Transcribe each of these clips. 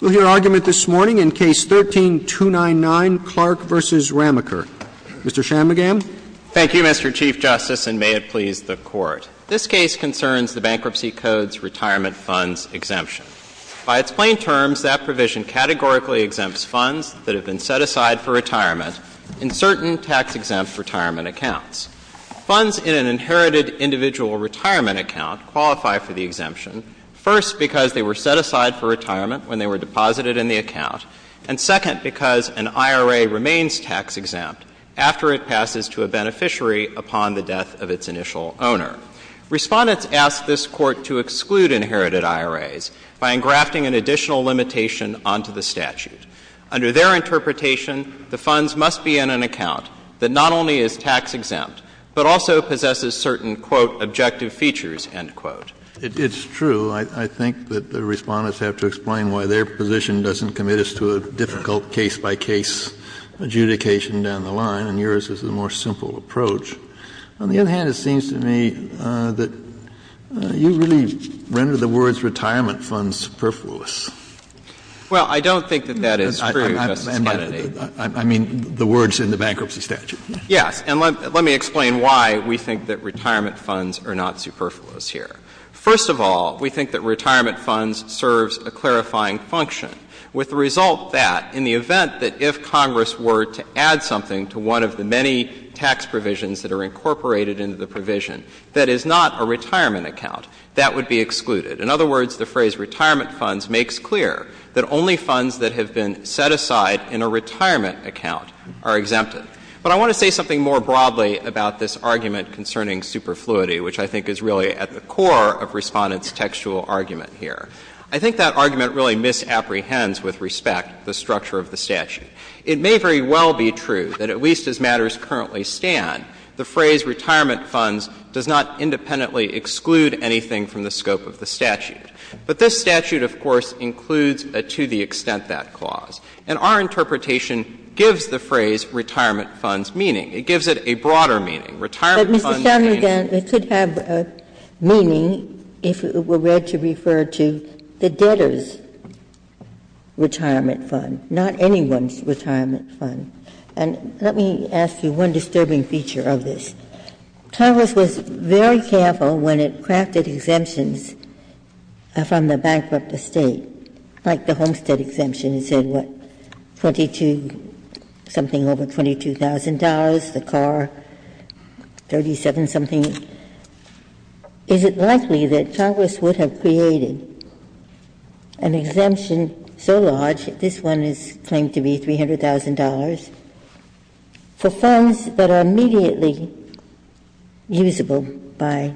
We'll hear argument this morning in Case 13-299, Clark v. Rameker. Mr. Shanmugam. Thank you, Mr. Chief Justice, and may it please the Court. This case concerns the Bankruptcy Code's retirement funds exemption. By its plain terms, that provision categorically exempts funds that have been set aside for retirement in certain tax-exempt retirement accounts. Funds in an inherited individual retirement account qualify for the exemption, first, because they were set aside for retirement when they were deposited in the account, and second, because an IRA remains tax-exempt after it passes to a beneficiary upon the death of its initial owner. Respondents asked this Court to exclude inherited IRAs by engrafting an additional limitation onto the statute. Under their interpretation, the funds must be in an account that not only is tax-exempt but also possesses certain, quote, objective features, end quote. Kennedy It's true. I think that the Respondents have to explain why their position doesn't commit us to a difficult case-by-case adjudication down the line, and yours is a more simple approach. On the other hand, it seems to me that you really render the words retirement funds superfluous. Shanmugam Well, I don't think that that is true, Justice Kennedy. Kennedy I mean the words in the bankruptcy statute. Shanmugam Yes. And let me explain why we think that retirement funds are not superfluous here. First of all, we think that retirement funds serves a clarifying function. With the result that, in the event that if Congress were to add something to one of the many tax provisions that are incorporated into the provision that is not a retirement account, that would be excluded. In other words, the phrase retirement funds makes clear that only funds that have been set aside in a retirement account are exempted. But I want to say something more broadly about this argument concerning superfluity, which I think is really at the core of Respondents' textual argument here. I think that argument really misapprehends, with respect, the structure of the statute. It may very well be true that, at least as matters currently stand, the phrase retirement funds does not independently exclude anything from the scope of the statute. But this statute, of course, includes to the extent that clause. And our interpretation gives the phrase retirement funds meaning. It gives it a broader meaning. Retirement funds may mean But, Mr. Shanmugam, it could have meaning if it were read to refer to the debtor's retirement fund, not anyone's retirement fund. And let me ask you one disturbing feature of this. Congress was very careful when it crafted exemptions from the bankrupt estate, like the Homestead exemption. It said, what, 22-something over $22,000, the car, 37-something. Is it likely that Congress would have created an exemption so large, this one is claimed to be $300,000, for funds that are immediately usable by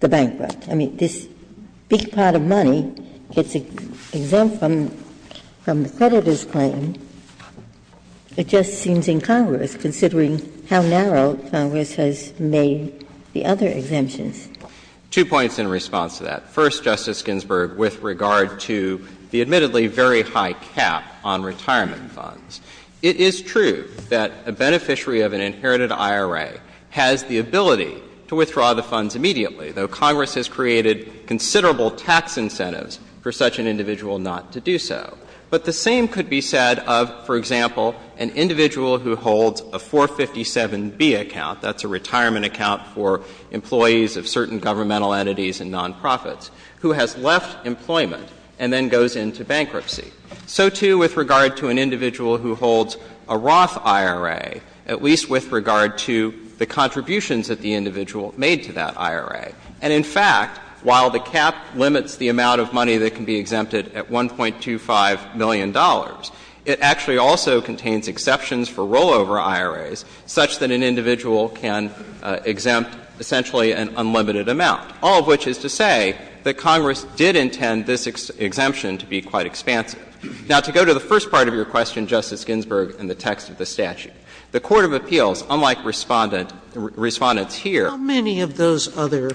the bankrupt? I mean, this big pot of money gets exempt from the creditor's claim. It just seems incongruous, considering how narrow Congress has made the other exemptions. Two points in response to that. First, Justice Ginsburg, with regard to the admittedly very high cap on retirement funds, it is true that a beneficiary of an inherited IRA has the ability to withdraw the funds immediately, though Congress has created considerable tax incentives for such an individual not to do so. But the same could be said of, for example, an individual who holds a 457B account — that's a retirement account for employees of certain governmental entities and nonprofits — who has left employment and then goes into bankruptcy. So, too, with regard to an individual who holds a Roth IRA, at least with regard to the contributions that the individual made to that IRA. And, in fact, while the cap limits the amount of money that can be exempted at $1.25 million, it actually also contains exceptions for rollover IRAs, such that an individual can exempt essentially an unlimited amount, all of which is to say that Congress did intend this exemption to be quite expansive. Now, to go to the first part of your question, Justice Ginsburg, and the text of the statute, the court of appeals, unlike Respondent — Respondent's here — Sotomayor, how many of those other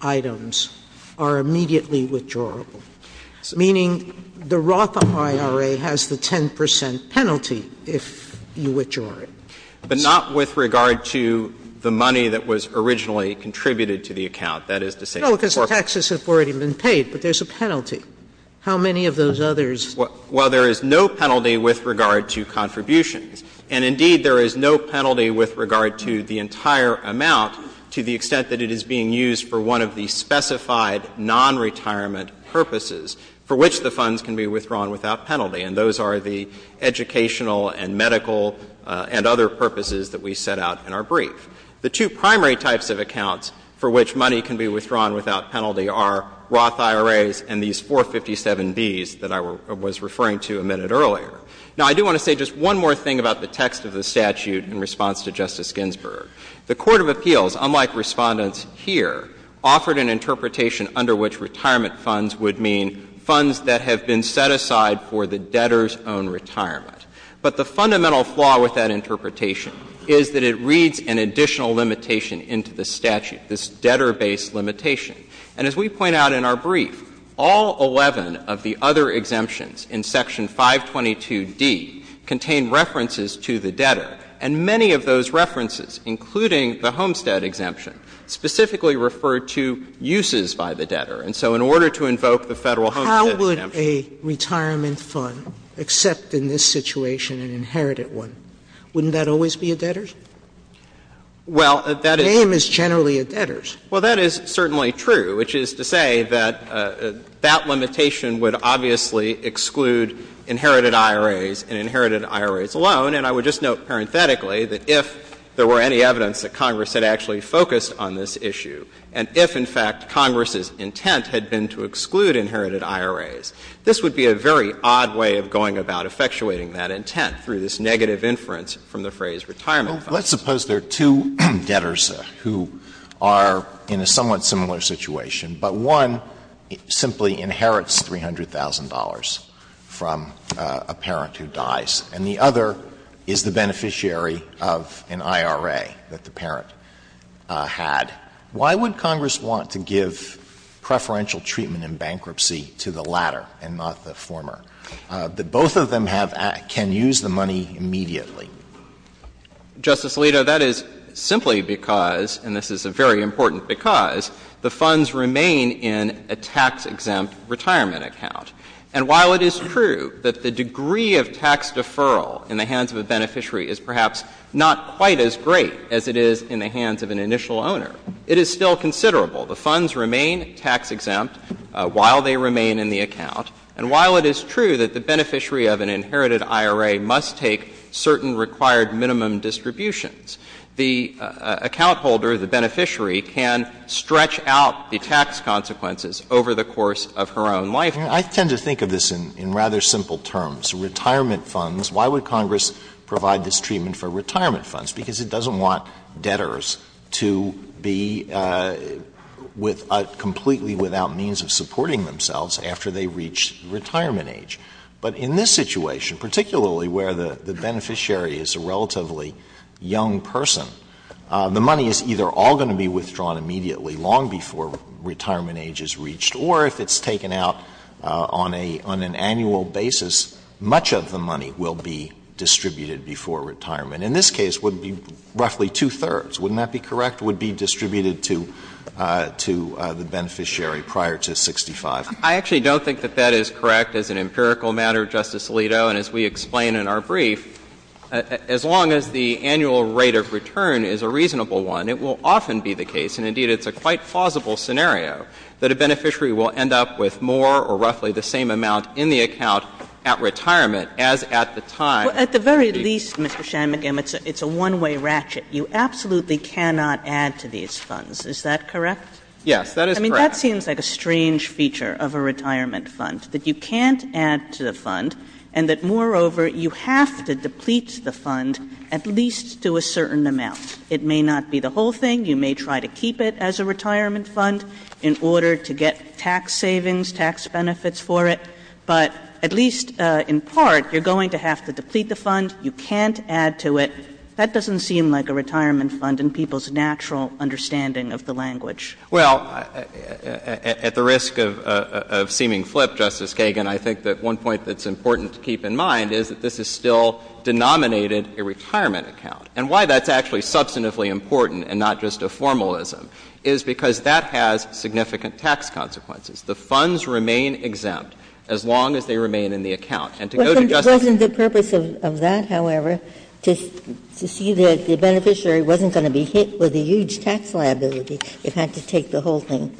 items are immediately withdrawable? Meaning the Roth IRA has the 10 percent penalty if you withdraw it. But not with regard to the money that was originally contributed to the account. That is to say — Well, because the taxes have already been paid, but there's a penalty. How many of those others? Well, there is no penalty with regard to contributions. And, indeed, there is no penalty with regard to the entire amount to the extent that it is being used for one of the specified nonretirement purposes for which the funds can be withdrawn without penalty. And those are the educational and medical and other purposes that we set out in our brief. The two primary types of accounts for which money can be withdrawn without penalty are Roth IRAs and these 457Bs that I was referring to a minute earlier. Now, I do want to say just one more thing about the text of the statute in response to Justice Ginsburg. The court of appeals, unlike Respondent's here, offered an interpretation under which retirement funds would mean funds that have been set aside for the debtor's own retirement. But the fundamental flaw with that interpretation is that it reads an additional limitation into the statute, this debtor-based limitation. And as we point out in our brief, all 11 of the other exemptions in Section 522D contain references to the debtor. And many of those references, including the Homestead exemption, specifically refer to uses by the debtor. And so in order to invoke the Federal Homestead exemption — Sotomayor, how would a retirement fund accept in this situation an inherited one? Wouldn't that always be a debtor's? Well, that is — The name is generally a debtor's. Well, that is certainly true, which is to say that that limitation would obviously exclude inherited IRAs and inherited IRAs alone. And I would just note parenthetically that if there were any evidence that Congress had actually focused on this issue, and if, in fact, Congress's intent had been to exclude inherited IRAs, this would be a very odd way of going about effectuating that intent through this negative inference from the phrase retirement fund. Well, let's suppose there are two debtors who are in a somewhat similar situation, but one simply inherits $300,000 from a parent who dies, and the other is the beneficiary of an IRA that the parent had. Why would Congress want to give preferential treatment in bankruptcy to the latter and not the former, that both of them have — can use the money immediately? Justice Alito, that is simply because, and this is a very important because, the funds remain in a tax-exempt retirement account. And while it is true that the degree of tax deferral in the hands of a beneficiary is perhaps not quite as great as it is in the hands of an initial owner, it is still considerable. The funds remain tax-exempt while they remain in the account. And while it is true that the beneficiary of an inherited IRA must take certain required minimum distributions, the account holder, the beneficiary, can stretch out the tax consequences over the course of her own life. I tend to think of this in rather simple terms. Retirement funds, why would Congress provide this treatment for retirement funds? Because it doesn't want debtors to be with — completely without means of supporting themselves after they reach retirement age. But in this situation, particularly where the beneficiary is a relatively young person, the money is either all going to be withdrawn immediately long before retirement age is reached, or if it's taken out on a — on an annual basis, much of the money will be distributed before retirement. In this case, it would be roughly two-thirds. Wouldn't that be correct? It would be distributed to — to the beneficiary prior to 65. I actually don't think that that is correct as an empirical matter, Justice Alito. And as we explain in our brief, as long as the annual rate of return is a reasonable one, it will often be the case, and indeed it's a quite plausible scenario, that a beneficiary will end up with more or roughly the same amount in the account at retirement as at the time the — Well, at the very least, Mr. Shanmugam, it's a — it's a one-way ratchet. You absolutely cannot add to these funds. Is that correct? Yes, that is correct. I mean, that seems like a strange feature of a retirement fund, that you can't add to the fund, and that, moreover, you have to deplete the fund at least to a certain amount. It may not be the whole thing. You may try to keep it as a retirement fund in order to get tax savings, tax benefits for it. But at least in part, you're going to have to deplete the fund. You can't add to it. That doesn't seem like a retirement fund in people's natural understanding of the language. Well, at the risk of — of seeming flip, Justice Kagan, I think that one point that's important to keep in mind is that this is still denominated a retirement account. And why that's actually substantively important and not just a formalism is because that has significant tax consequences. The funds remain exempt as long as they remain in the account. And to go to Justice Kagan's case, I think that's important. But wasn't the purpose of that, however, to see that the beneficiary wasn't going to be hit with a huge tax liability if it had to take the whole thing?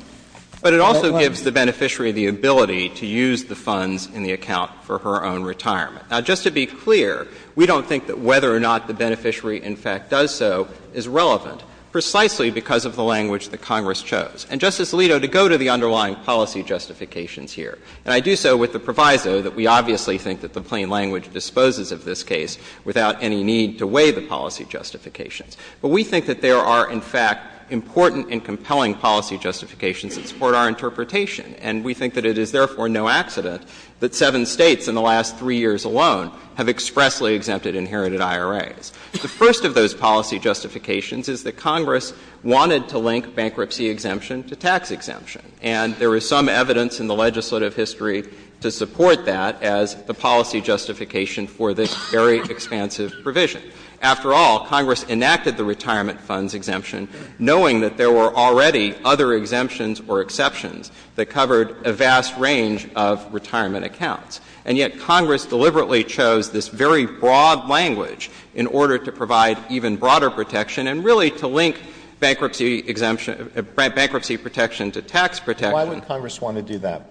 But it also gives the beneficiary the ability to use the funds in the account for her own retirement. Now, just to be clear, we don't think that whether or not the beneficiary in fact does so is relevant precisely because of the language that Congress chose. And, Justice Alito, to go to the underlying policy justifications here, and I do so with the proviso that we obviously think that the plain language disposes of this case without any need to weigh the policy justifications, but we think that there are, in fact, important and compelling policy justifications that support our interpretation. And we think that it is, therefore, no accident that seven States in the last three years alone have expressly exempted inherited IRAs. The first of those policy justifications is that Congress wanted to link bankruptcy exemption to tax exemption. And there is some evidence in the legislative history to support that as the policy justification for this very expansive provision. After all, Congress enacted the retirement funds exemption knowing that there were already other exemptions or exceptions that covered a vast range of retirement accounts. And yet Congress deliberately chose this very broad language in order to provide even broader protection and really to link bankruptcy exemption — bankruptcy protection to tax protection. Why would Congress want to do that?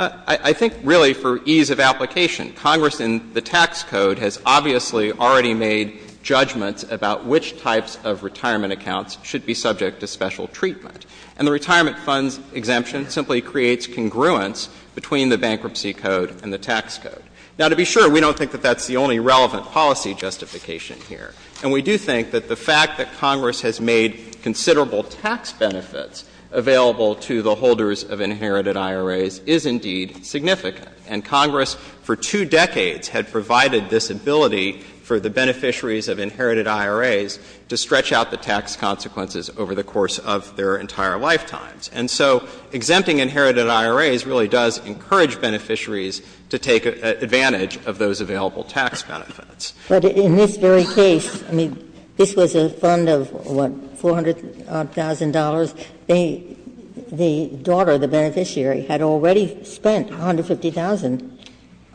I think really for ease of application. Congress in the tax code has obviously already made judgments about which types of retirement accounts should be subject to special treatment. And the retirement funds exemption simply creates congruence between the bankruptcy code and the tax code. Now, to be sure, we don't think that that's the only relevant policy justification here. And we do think that the fact that Congress has made considerable tax benefits available to the holders of inherited IRAs is indeed significant. And Congress for two decades had provided this ability for the beneficiaries of inherited IRAs to stretch out the tax consequences over the course of their entire lifetimes. And so exempting inherited IRAs really does encourage beneficiaries to take advantage of those available tax benefits. Ginsburg. But in this very case, I mean, this was a fund of, what, $400,000? They — the daughter, the beneficiary, had already spent $150,000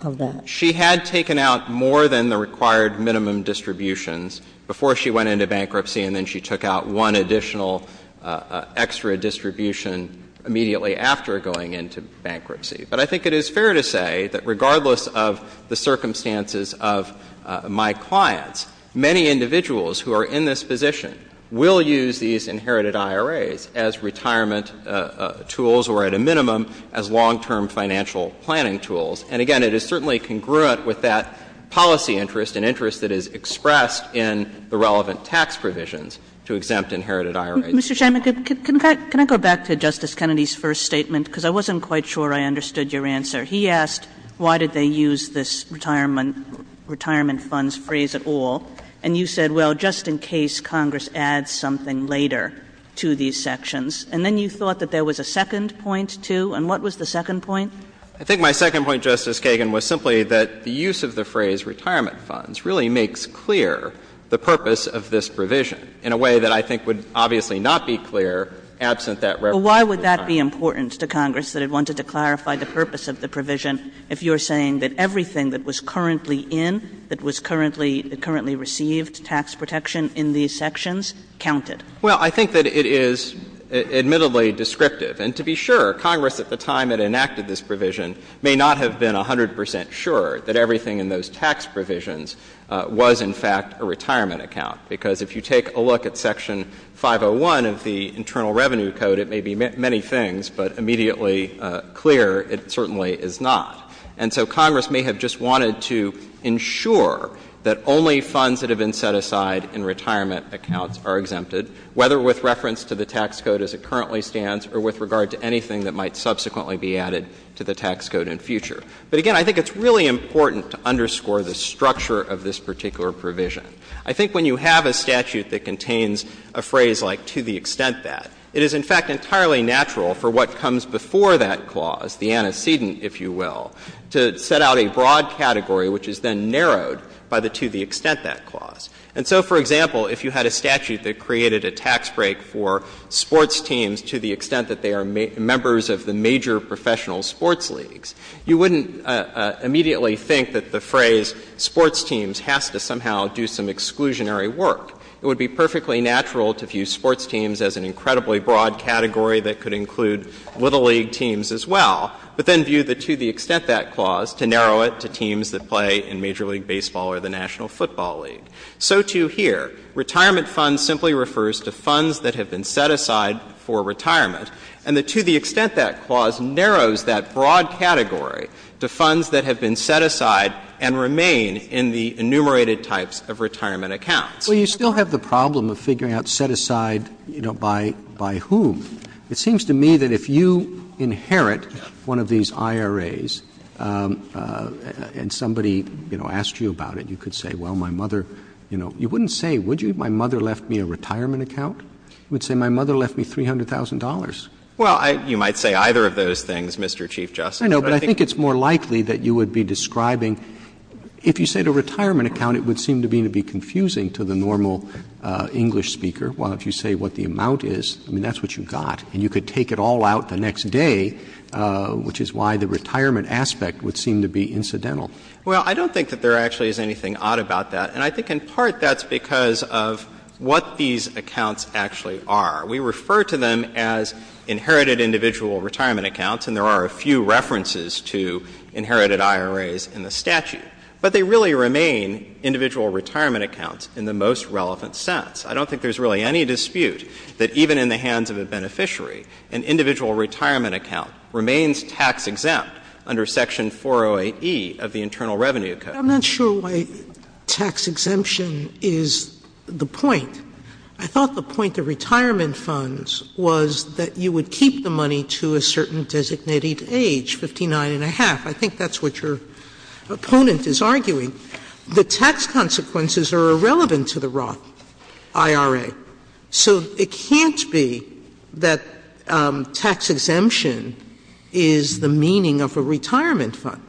of that. She had taken out more than the required minimum distributions before she went into bankruptcy, and then she took out one additional extra distribution immediately after going into bankruptcy. But I think it is fair to say that regardless of the circumstances of my clients, many individuals who are in this position will use these inherited IRAs as retirement tools or, at a minimum, as long-term financial planning tools. And again, it is certainly congruent with that policy interest, an interest that is to exempt inherited IRAs. Kagan. Mr. Shanmugam, can I go back to Justice Kennedy's first statement? Because I wasn't quite sure I understood your answer. He asked why did they use this retirement funds phrase at all. And you said, well, just in case Congress adds something later to these sections. And then you thought that there was a second point, too. And what was the second point? I think my second point, Justice Kagan, was simply that the use of the phrase retirement funds really makes clear the purpose of this provision in a way that I think would obviously not be clear absent that reference to retirement funds. But why would that be important to Congress, that it wanted to clarify the purpose of the provision, if you are saying that everything that was currently in, that was currently — that currently received tax protection in these sections counted? Well, I think that it is admittedly descriptive. And to be sure, Congress at the time it enacted this provision may not have been 100 percent sure that everything in those tax provisions was, in fact, a retirement account. Because if you take a look at Section 501 of the Internal Revenue Code, it may be many things, but immediately clear it certainly is not. And so Congress may have just wanted to ensure that only funds that have been set aside in retirement accounts are exempted, whether with reference to the tax code as it currently stands or with regard to anything that might subsequently be added to the tax code in future. But, again, I think it's really important to underscore the structure of this particular provision. I think when you have a statute that contains a phrase like to the extent that, it is, in fact, entirely natural for what comes before that clause, the antecedent, if you will, to set out a broad category which is then narrowed by the to the extent that clause. And so, for example, if you had a statute that created a tax break for sports teams to the extent that they are members of the major professional sports leagues, you wouldn't immediately think that the phrase sports teams has to somehow do some exclusionary work. It would be perfectly natural to view sports teams as an incredibly broad category that could include little league teams as well, but then view the to the extent that clause to narrow it to teams that play in major league baseball or the national football league. So, too, here, retirement funds simply refers to funds that have been set aside for retirement accounts, to funds that have been set aside and remain in the enumerated types of retirement accounts. Roberts. Well, you still have the problem of figuring out set aside, you know, by whom. It seems to me that if you inherit one of these IRAs and somebody, you know, asked you about it, you could say, well, my mother, you know, you wouldn't say, would you, my mother left me a retirement account? You would say, my mother left me $300,000. Well, I — you might say either of those things, Mr. Chief Justice. I know, but I think it's more likely that you would be describing — if you said a retirement account, it would seem to be confusing to the normal English speaker. Well, if you say what the amount is, I mean, that's what you got. And you could take it all out the next day, which is why the retirement aspect would seem to be incidental. Well, I don't think that there actually is anything odd about that. And I think in part that's because of what these accounts actually are. We refer to them as inherited individual retirement accounts, and there are a few references to inherited IRAs in the statute. But they really remain individual retirement accounts in the most relevant sense. I don't think there's really any dispute that even in the hands of a beneficiary, an individual retirement account remains tax-exempt under Section 408E of the Internal Revenue Code. I'm not sure why tax exemption is the point. I thought the point of retirement funds was that you would keep the money to a certain designated age, 59 and a half. I think that's what your opponent is arguing. The tax consequences are irrelevant to the Roth IRA. So it can't be that tax exemption is the meaning of a retirement fund.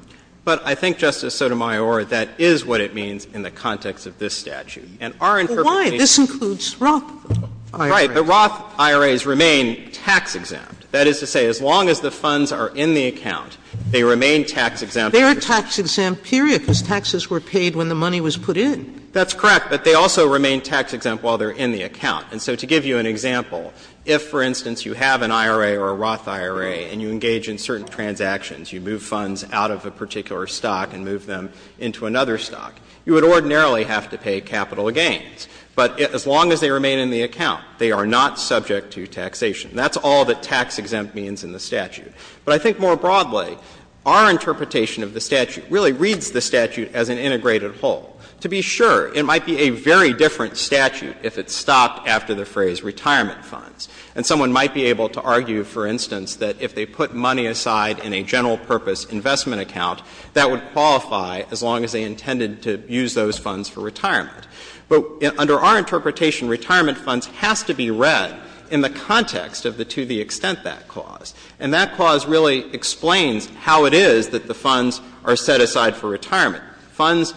But I think, Justice Sotomayor, that is what it means in the context of this statute. And our interpretation — Sotomayor, and we'll get back to you on this in a moment — is that it includes Roth IRAs. Right. The Roth IRAs remain tax-exempt. That is to say, as long as the funds are in the account, they remain tax-exempt under the statute. They are tax-exempt, period, because taxes were paid when the money was put in. That's correct. But they also remain tax-exempt while they're in the account. And so to give you an example, if, for instance, you have an IRA or a Roth IRA and you engage in certain transactions, you move funds out of a particular stock and move them into another stock, you would ordinarily have to pay capital gains. But as long as they remain in the account, they are not subject to taxation. That's all that tax-exempt means in the statute. But I think more broadly, our interpretation of the statute really reads the statute as an integrated whole. To be sure, it might be a very different statute if it stopped after the phrase retirement funds. And someone might be able to argue, for instance, that if they put money aside in a general purpose investment account, that would qualify as long as they intended to use those funds for retirement. But under our interpretation, retirement funds has to be read in the context of the to-the-extent-that clause. And that clause really explains how it is that the funds are set aside for retirement. Funds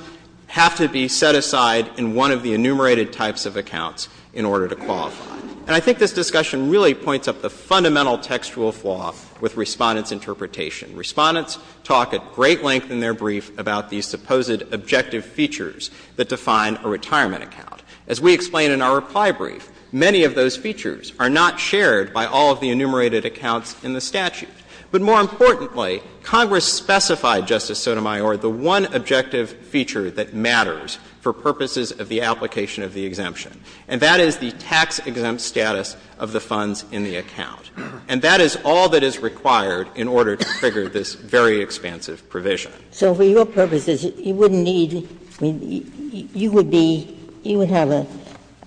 have to be set aside in one of the enumerated types of accounts in order to qualify. And I think this discussion really points up the fundamental textual flaw with Respondent's interpretation. Respondents talk at great length in their brief about these supposed objective features that define a retirement account. As we explain in our reply brief, many of those features are not shared by all of the enumerated accounts in the statute. But more importantly, Congress specified, Justice Sotomayor, the one objective feature that matters for purposes of the application of the exemption, and that is the tax-exempt status of the funds in the account. And that is all that is required in order to figure this very expansive provision. Ginsburg. So for your purposes, you wouldn't need to be you would be you would have a,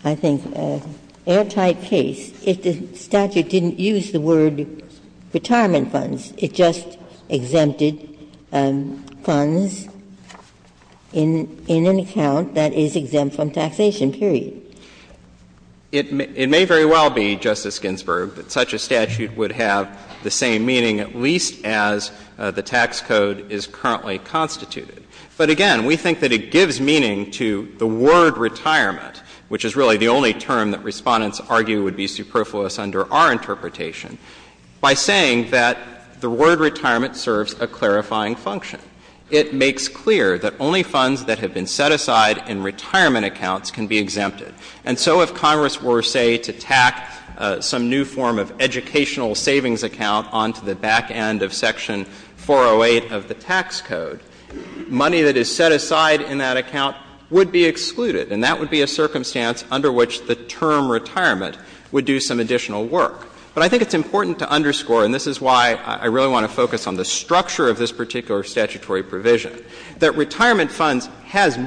I think, anti-case if the statute didn't use the word retirement funds. It just exempted funds in an account that is exempt from taxation, period. It may very well be, Justice Ginsburg, that such a statute would have the same meaning at least as the tax code is currently constituted. But again, we think that it gives meaning to the word retirement, which is really the only term that Respondents argue would be superfluous under our interpretation, by saying that the word retirement serves a clarifying function. It makes clear that only funds that have been set aside in retirement accounts can be exempted. And so if Congress were, say, to tack some new form of educational savings account onto the back end of Section 408 of the tax code, money that is set aside in that account would be excluded, and that would be a circumstance under which the term retirement would do some additional work. But I think it's important to underscore, and this is why I really want to focus on the structure of this particular statutory provision, that retirement funds has a broader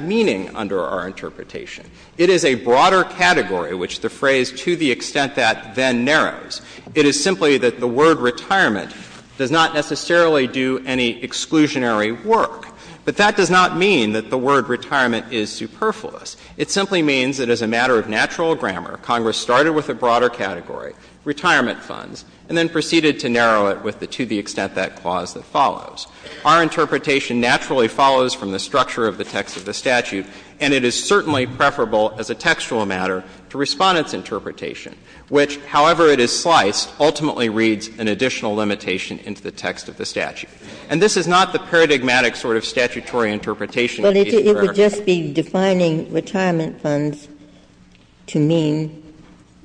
meaning under our interpretation. It is a broader category, which the phrase, to the extent that, then narrows. It is simply that the word retirement does not necessarily do any exclusionary work. But that does not mean that the word retirement is superfluous. It simply means that as a matter of natural grammar, Congress started with a broader category, retirement funds, and then proceeded to narrow it with the to the extent that clause that follows. Our interpretation naturally follows from the structure of the text of the statute, and it is certainly preferable as a textual matter to Respondent's interpretation, which, however it is sliced, ultimately reads an additional limitation into the text of the statute. And this is not the paradigmatic sort of statutory interpretation that we've heard. Ginsburg. But it would just be defining retirement funds to mean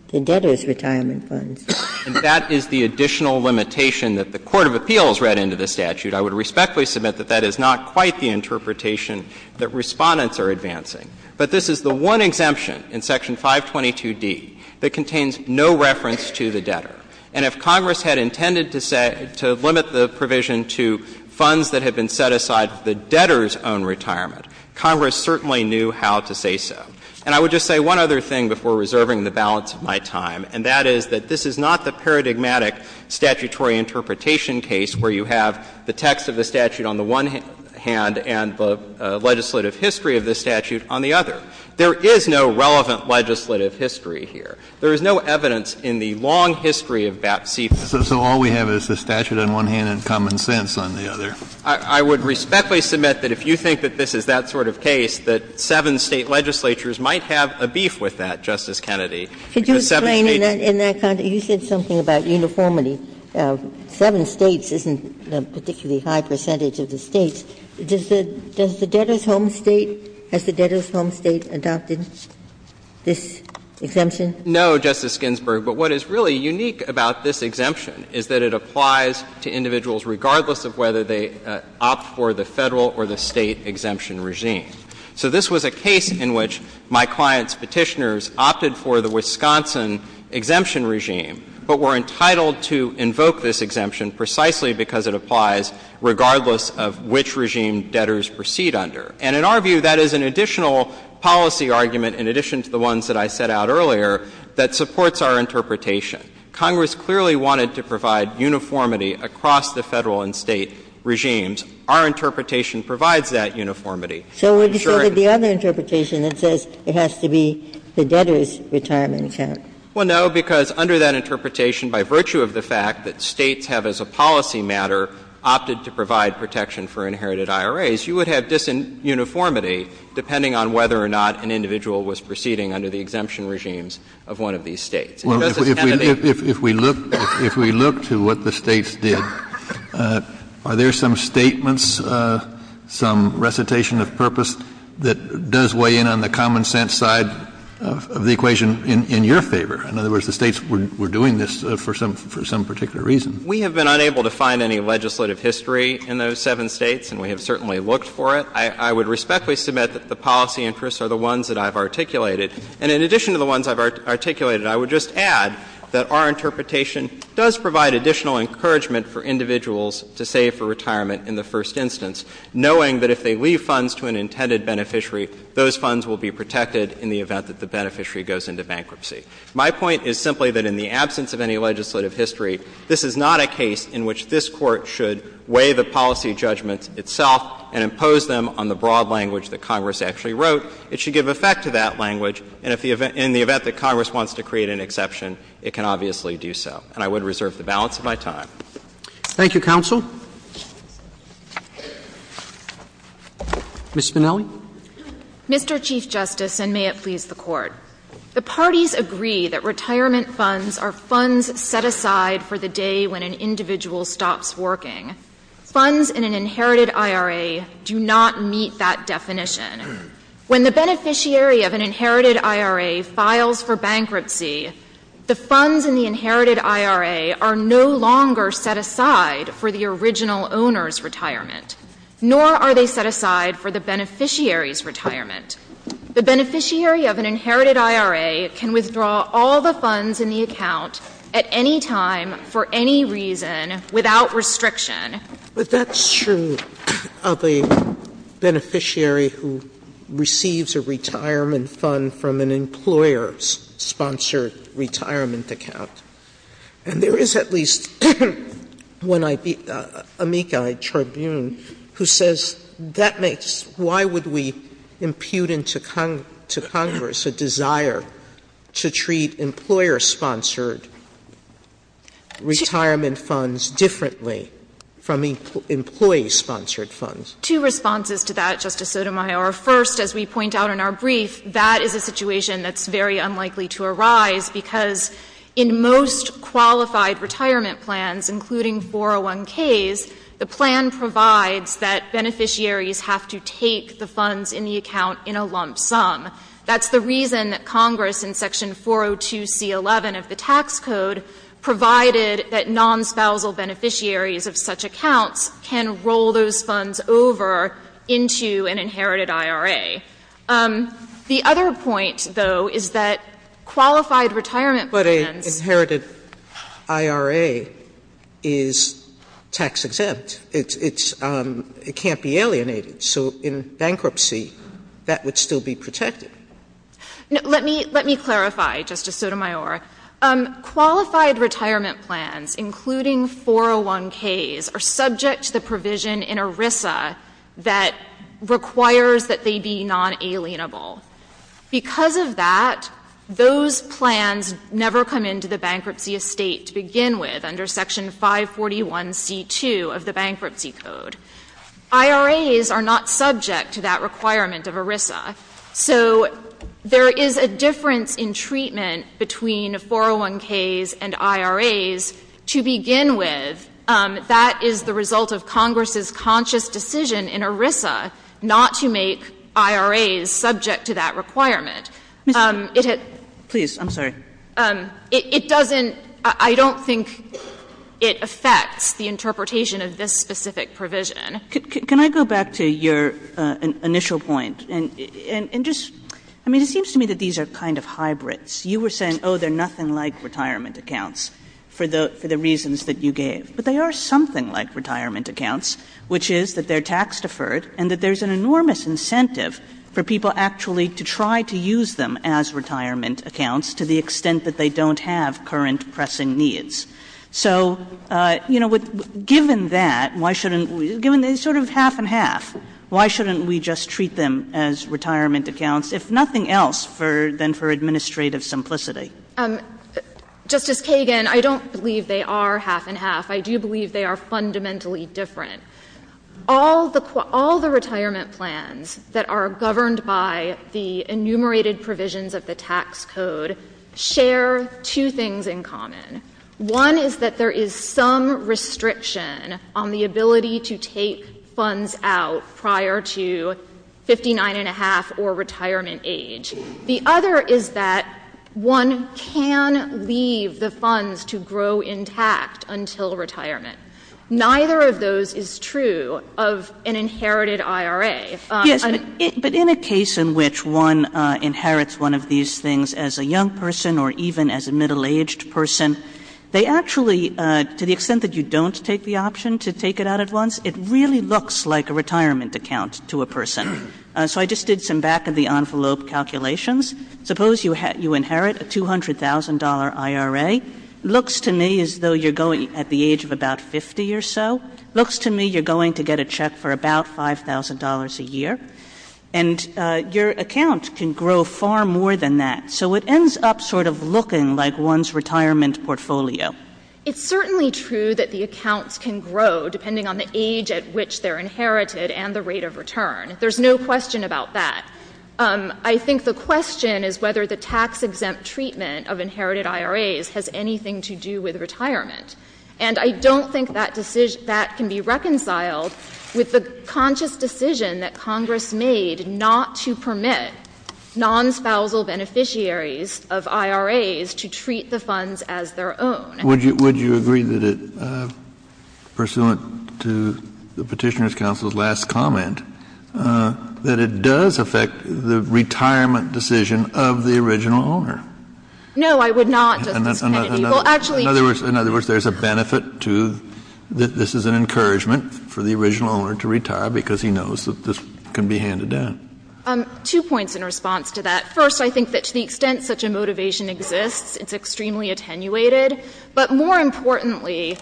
the debtor's retirement funds. And that is the additional limitation that the court of appeals read into the statute. I would respectfully submit that that is not quite the interpretation that Respondents are advancing. But this is the one exemption in section 522d that contains no reference to the debtor. And if Congress had intended to say to limit the provision to funds that had been set aside for the debtor's own retirement, Congress certainly knew how to say so. And I would just say one other thing before reserving the balance of my time, and that is that this is not the paradigmatic statutory interpretation case where you have the text of the statute on the one hand and the legislative history of the statute on the other. There is no relevant legislative history here. There is no evidence in the long history of BAPC that says that. Kennedy. So all we have is the statute on one hand and common sense on the other. I would respectfully submit that if you think that this is that sort of case, that seven State legislatures might have a beef with that, Justice Kennedy, because seven States do. Ginsburg. Ginsburg. I would like to ask a question about this exemption, because it applies to a particularly high percentage of the States. Does the debtor's home State, has the debtor's home State adopted this exemption? No, Justice Ginsburg. But what is really unique about this exemption is that it applies to individuals regardless of whether they opt for the Federal or the State exemption regime. So this was a case in which my client's Petitioners opted for the Wisconsin exemption regime, but were entitled to invoke this exemption precisely because it applies regardless of which regime debtors proceed under. And in our view, that is an additional policy argument in addition to the ones that I set out earlier that supports our interpretation. Congress clearly wanted to provide uniformity across the Federal and State regimes. Our interpretation provides that uniformity. So would you say that the other interpretation that says it has to be the debtor's retirement account? Well, no, because under that interpretation, by virtue of the fact that States have as a policy matter opted to provide protection for inherited IRAs, you would have disuniformity depending on whether or not an individual was proceeding under the exemption regimes of one of these States. And Justice Kennedy? If we look, if we look to what the States did, are there some statements, some recitation of purpose that does weigh in on the common sense side of the equation in your favor? In other words, the States were doing this for some particular reason. We have been unable to find any legislative history in those seven States, and we have certainly looked for it. I would respectfully submit that the policy interests are the ones that I've articulated. And in addition to the ones I've articulated, I would just add that our interpretation does provide additional encouragement for individuals to save for retirement in the first instance, knowing that if they leave funds to an intended beneficiary, those funds will be protected in the event that the beneficiary goes into bankruptcy. My point is simply that in the absence of any legislative history, this is not a case in which this Court should weigh the policy judgments itself and impose them on the broad language that Congress actually wrote. It should give effect to that language, and if the event — in the event that Congress wants to create an exception, it can obviously do so. And I would reserve the balance of my time. Roberts. Thank you, counsel. Ms. Minnelli. Mr. Chief Justice, and may it please the Court, the parties agree that retirement funds are funds set aside for the day when an individual stops working. Funds in an inherited IRA do not meet that definition. When the beneficiary of an inherited IRA files for bankruptcy, the funds in the inherited IRA are no longer set aside for the original owner's retirement, nor are they set aside for the beneficiary's retirement. The beneficiary of an inherited IRA can withdraw all the funds in the account at any time, for any reason, without restriction. But that's true of a beneficiary who receives a retirement fund from an employer-sponsored retirement account. And there is at least one amici, a tribune, who says that makes — why would we impute into Congress a desire to treat employer-sponsored retirement funds differently from employee-sponsored funds? Two responses to that, Justice Sotomayor. First, as we point out in our brief, that is a situation that's very unlikely to arise because in most qualified retirement plans, including 401Ks, the plan provides that beneficiaries have to take the funds in the account in a lump sum. That's the reason that Congress in Section 402C11 of the Tax Code provided that non-spousal beneficiaries of such accounts can roll those funds over into an inherited IRA. The other point, though, is that qualified retirement plans — Sotomayor, but an inherited IRA is tax-exempt. It's — it can't be alienated. So in bankruptcy, that would still be protected. Let me — let me clarify, Justice Sotomayor. Qualified retirement plans, including 401Ks, are subject to the provision in ERISA that requires that they be non-alienable. Because of that, those plans never come into the bankruptcy estate to begin with under Section 541C2 of the Bankruptcy Code. IRAs are not subject to that requirement of ERISA. So there is a difference in treatment between 401Ks and IRAs. To begin with, that is the result of Congress's conscious decision in ERISA not to make IRAs subject to that requirement. It had — Kagan, please, I'm sorry. It doesn't — I don't think it affects the interpretation of this specific provision. Can I go back to your initial point? And just — I mean, it seems to me that these are kind of hybrids. You were saying, oh, they're nothing like retirement accounts for the — for the reasons that you gave. But they are something like retirement accounts, which is that they're tax-deferred and that there's an enormous incentive for people actually to try to use them as retirement accounts to the extent that they don't have current pressing needs. So, you know, given that, why shouldn't we — given they're sort of half and half, why shouldn't we just treat them as retirement accounts, if nothing else, than for administrative simplicity? Justice Kagan, I don't believe they are half and half. I do believe they are fundamentally different. All the — all the retirement plans that are governed by the enumerated provisions of the tax code share two things in common. One is that there is some restriction on the ability to take funds out prior to 59 and a half or retirement age. The other is that one can leave the funds to grow intact until retirement. Neither of those is true of an inherited IRA. Kagan. But in a case in which one inherits one of these things as a young person or even as a middle-aged person, they actually, to the extent that you don't take the option to take it out at once, it really looks like a retirement account to a person. So I just did some back-of-the-envelope calculations. Suppose you inherit a $200,000 IRA. Looks to me as though you're going at the age of about 50 or so. Looks to me you're going to get a check for about $5,000 a year. And your account can grow far more than that. So it ends up sort of looking like one's retirement portfolio. It's certainly true that the accounts can grow depending on the age at which they're inherited and the rate of return. There's no question about that. I think the question is whether the tax-exempt treatment of inherited IRAs has anything to do with retirement. And I don't think that decision — that can be reconciled with the conscious decision that Congress made not to permit non-spousal beneficiaries of IRAs to treat the funds as their own. Kennedy, would you agree that it, pursuant to the Petitioner's counsel's last comment, that it does affect the retirement decision of the original owner? No, I would not, Justice Kennedy. Well, actually — In other words, there's a benefit to — that this is an encouragement for the original owner to retire because he knows that this can be handed down. Two points in response to that. First, I think that to the extent such a motivation exists, it's extremely attenuated. But more importantly,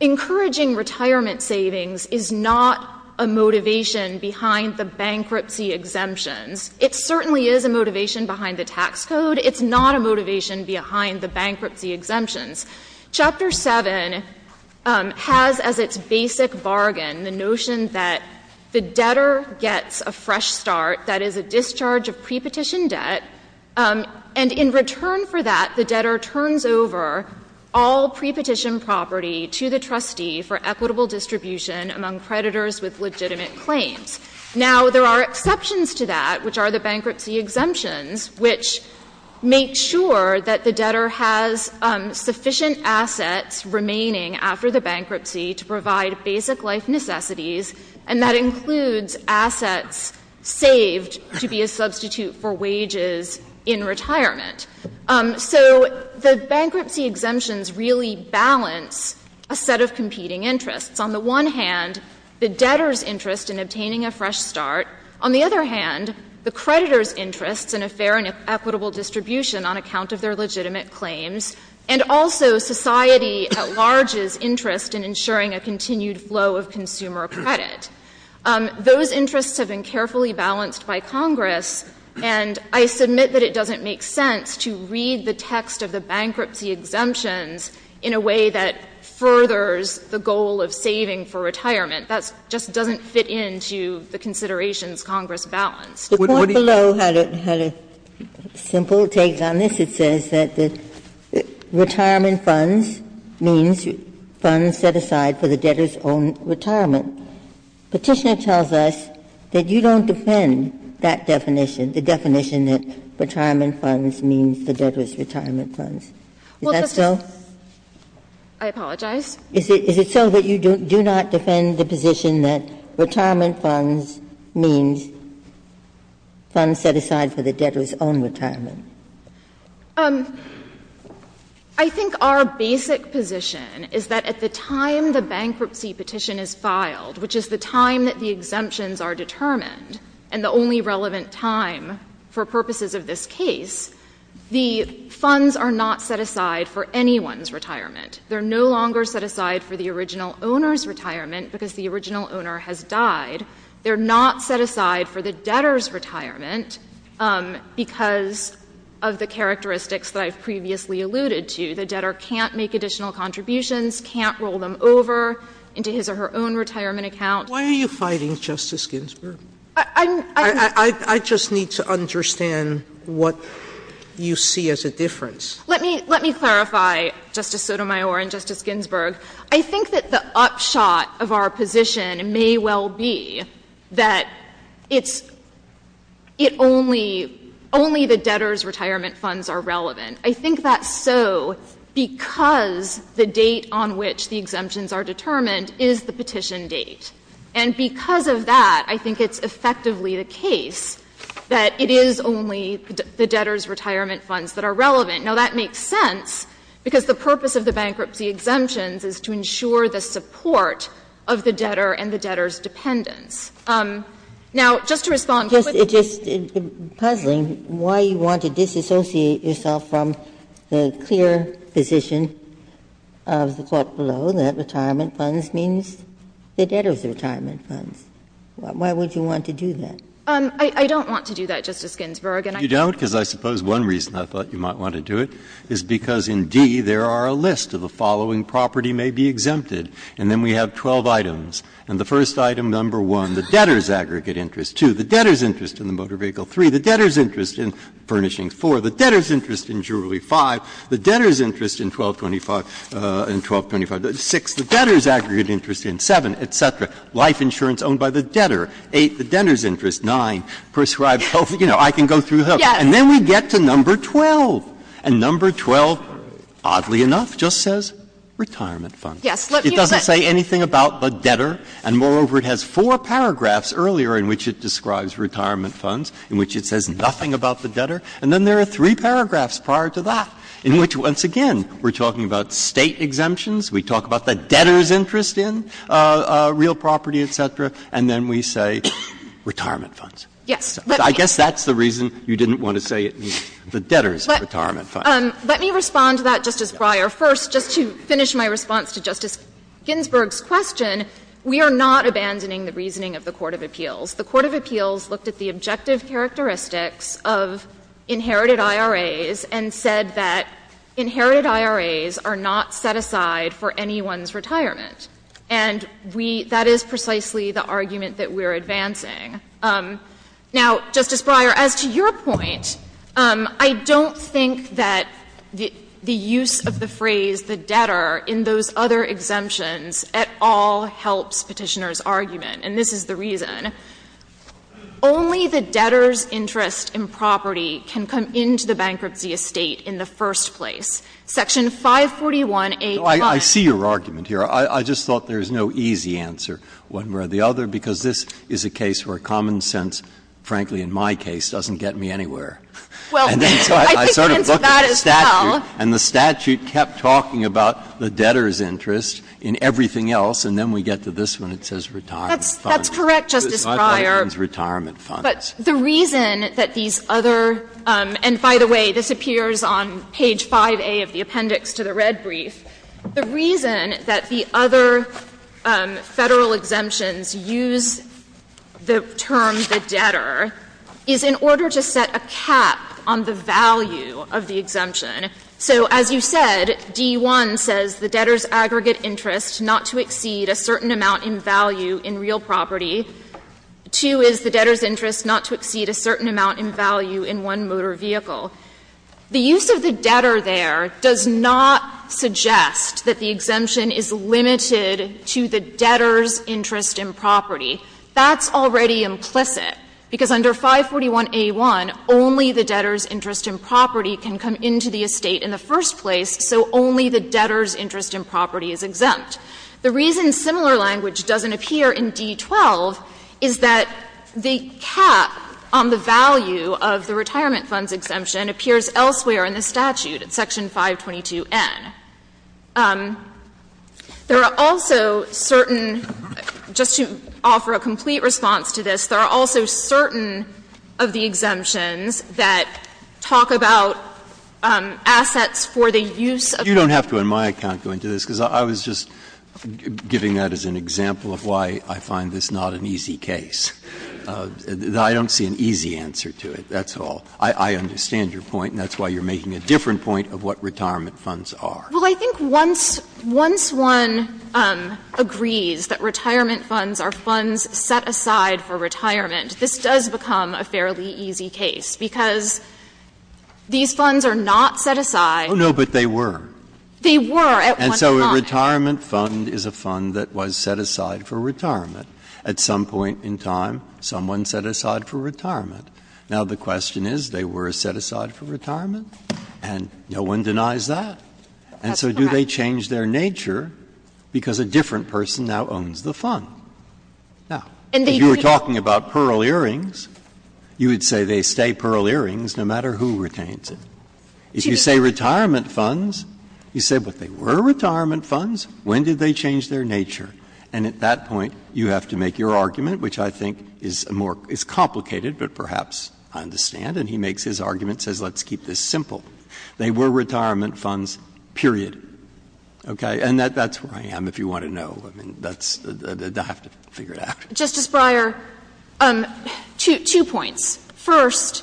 encouraging retirement savings is not a motivation behind the bankruptcy exemptions. It certainly is a motivation behind the tax code. It's not a motivation behind the bankruptcy exemptions. Chapter 7 has as its basic bargain the notion that the debtor gets a fresh start, that is, a discharge of prepetition debt. And in return for that, the debtor turns over all prepetition property to the trustee for equitable distribution among creditors with legitimate claims. Now, there are exceptions to that, which are the bankruptcy exemptions, which make sure that the debtor has sufficient assets remaining after the bankruptcy to provide basic life necessities, and that includes assets saved to be a substitute for wages in retirement. So the bankruptcy exemptions really balance a set of competing interests. On the one hand, the debtor's interest in obtaining a fresh start. On the other hand, the creditor's interest in a fair and equitable distribution on account of their legitimate claims. And also, society at large's interest in ensuring a continued flow of consumer credit. Those interests have been carefully balanced by Congress, and I submit that it doesn't make sense to read the text of the bankruptcy exemptions in a way that furthers the goal of saving for retirement. That just doesn't fit into the considerations Congress balanced. Ginsburg. The point below had a simple take on this. It says that the retirement funds means funds set aside for the debtor's own retirement. Petitioner tells us that you don't defend that definition, the definition that retirement funds means the debtor's retirement funds. Is that so? Well, Justice Kagan, I apologize. Is it so that you do not defend the position that retirement funds means funds set aside for the debtor's own retirement? I think our basic position is that at the time the bankruptcy petition is filed, which is the time that the exemptions are determined and the only relevant time for purposes of this case, the funds are not set aside for anyone's retirement. They're no longer set aside for the original owner's retirement because the original owner has died. They're not set aside for the debtor's retirement because of the characteristics that I've previously alluded to. The debtor can't make additional contributions, can't roll them over into his or her own retirement account. Why are you fighting, Justice Ginsburg? I'm not going to argue with you on this, but I just need to understand what you see as a difference. Let me clarify, Justice Sotomayor and Justice Ginsburg. I think that the upshot of our position may well be that it's — it only — only the debtor's retirement funds are relevant. I think that's so because the date on which the exemptions are determined is the petition date. And because of that, I think it's effectively the case that it is only the debtor's retirement funds that are relevant. Now, that makes sense because the purpose of the bankruptcy exemptions is to ensure the support of the debtor and the debtor's dependents. Now, just to respond quickly to your question, Justice Ginsburg, I'm just puzzling why you want to disassociate yourself from the clear position of the Court below that retirement funds means the debtor's retirement funds. Why would you want to do that? I don't want to do that, Justice Ginsburg. And I think that's because the debtor's interest in the motor vehicle 3, the debtor's interest in the furnishings 4, the debtor's interest in jewelry 5, the debtor's interest in 1225 — in 1225. And then we get to number 12, and number 12, oddly enough, just says retirement funds. It doesn't say anything about the debtor, and moreover, it has four paragraphs earlier in which it describes retirement funds, in which it says nothing about the debtor. And then there are three paragraphs prior to that in which, once again, we're talking about the debtor's interest in real property, et cetera, and then we say retirement funds. Yes. I guess that's the reason you didn't want to say the debtor's retirement funds. Let me respond to that, Justice Breyer. First, just to finish my response to Justice Ginsburg's question, we are not abandoning the reasoning of the court of appeals. The court of appeals looked at the objective characteristics of inherited IRAs and said that inherited IRAs are not set aside for anyone's retirement. And we — that is precisely the argument that we're advancing. Now, Justice Breyer, as to your point, I don't think that the use of the phrase the debtor in those other exemptions at all helps Petitioner's argument, and this is the reason. Only the debtor's interest in property can come into the bankruptcy estate in the first place. Section 541A plus — I see your argument here. I just thought there's no easy answer one way or the other, because this is a case where common sense, frankly, in my case, doesn't get me anywhere. And then so I sort of looked at the statute — Well, I think it answers that as well. And the statute kept talking about the debtor's interest in everything else, and then we get to this one. It says retirement funds. That's correct, Justice Breyer. But the reason that these other — and by the way, this appears on page 5A of the appendix to the red brief. The reason that the other Federal exemptions use the term the debtor is in order to set a cap on the value of the exemption. So as you said, D.I. says the debtor's aggregate interest not to exceed a certain amount in value in real property. Two is the debtor's interest not to exceed a certain amount in value in one motor vehicle. The use of the debtor there does not suggest that the exemption is limited to the debtor's interest in property. That's already implicit, because under 541A1, only the debtor's interest in property can come into the estate in the first place, so only the debtor's interest in property is exempt. The reason similar language doesn't appear in D.12 is that the cap on the value of the retirement funds exemption appears elsewhere in the statute, in Section 522N. There are also certain — just to offer a complete response to this, there are also certain of the exemptions that talk about assets for the use of the debtor's interest, giving that as an example of why I find this not an easy case. I don't see an easy answer to it, that's all. I understand your point, and that's why you're making a different point of what retirement funds are. Well, I think once one agrees that retirement funds are funds set aside for retirement, this does become a fairly easy case, because these funds are not set aside. They were at one time. And so a retirement fund is a fund that was set aside for retirement. At some point in time, someone set aside for retirement. Now, the question is, they were set aside for retirement, and no one denies that. And so do they change their nature because a different person now owns the fund? Now, if you were talking about Pearl Earrings, you would say they stay Pearl Earrings no matter who retains it. If you say retirement funds, you say, but they were retirement funds, when did they change their nature? And at that point, you have to make your argument, which I think is more — is complicated, but perhaps I understand. And he makes his argument, says, let's keep this simple. They were retirement funds, period. Okay? And that's where I am, if you want to know. I mean, that's — I have to figure it out. Justice Breyer, two points. First,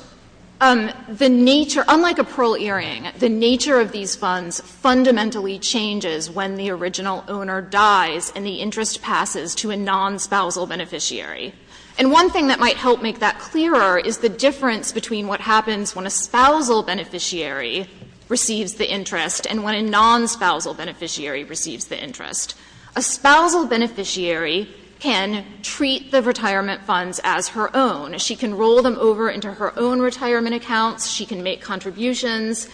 the nature — unlike a Pearl Earring, the nature of these funds fundamentally changes when the original owner dies and the interest passes to a non-spousal beneficiary. And one thing that might help make that clearer is the difference between what happens when a spousal beneficiary receives the interest and when a non-spousal beneficiary receives the interest. A spousal beneficiary can treat the retirement funds as her own. She can roll them over into her own retirement accounts. She can make contributions.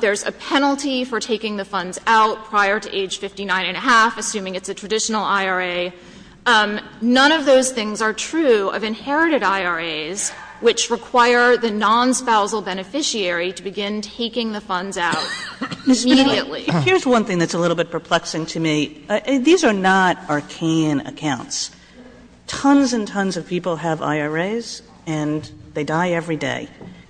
There's a penalty for taking the funds out prior to age 59 and a half, assuming it's a traditional IRA. None of those things are true of inherited IRAs, which require the non-spousal beneficiary to begin taking the funds out immediately. Kagan. Kagan. Here's one thing that's a little bit perplexing to me. These are not arcane accounts. Tons and tons of people have IRAs and they die every day,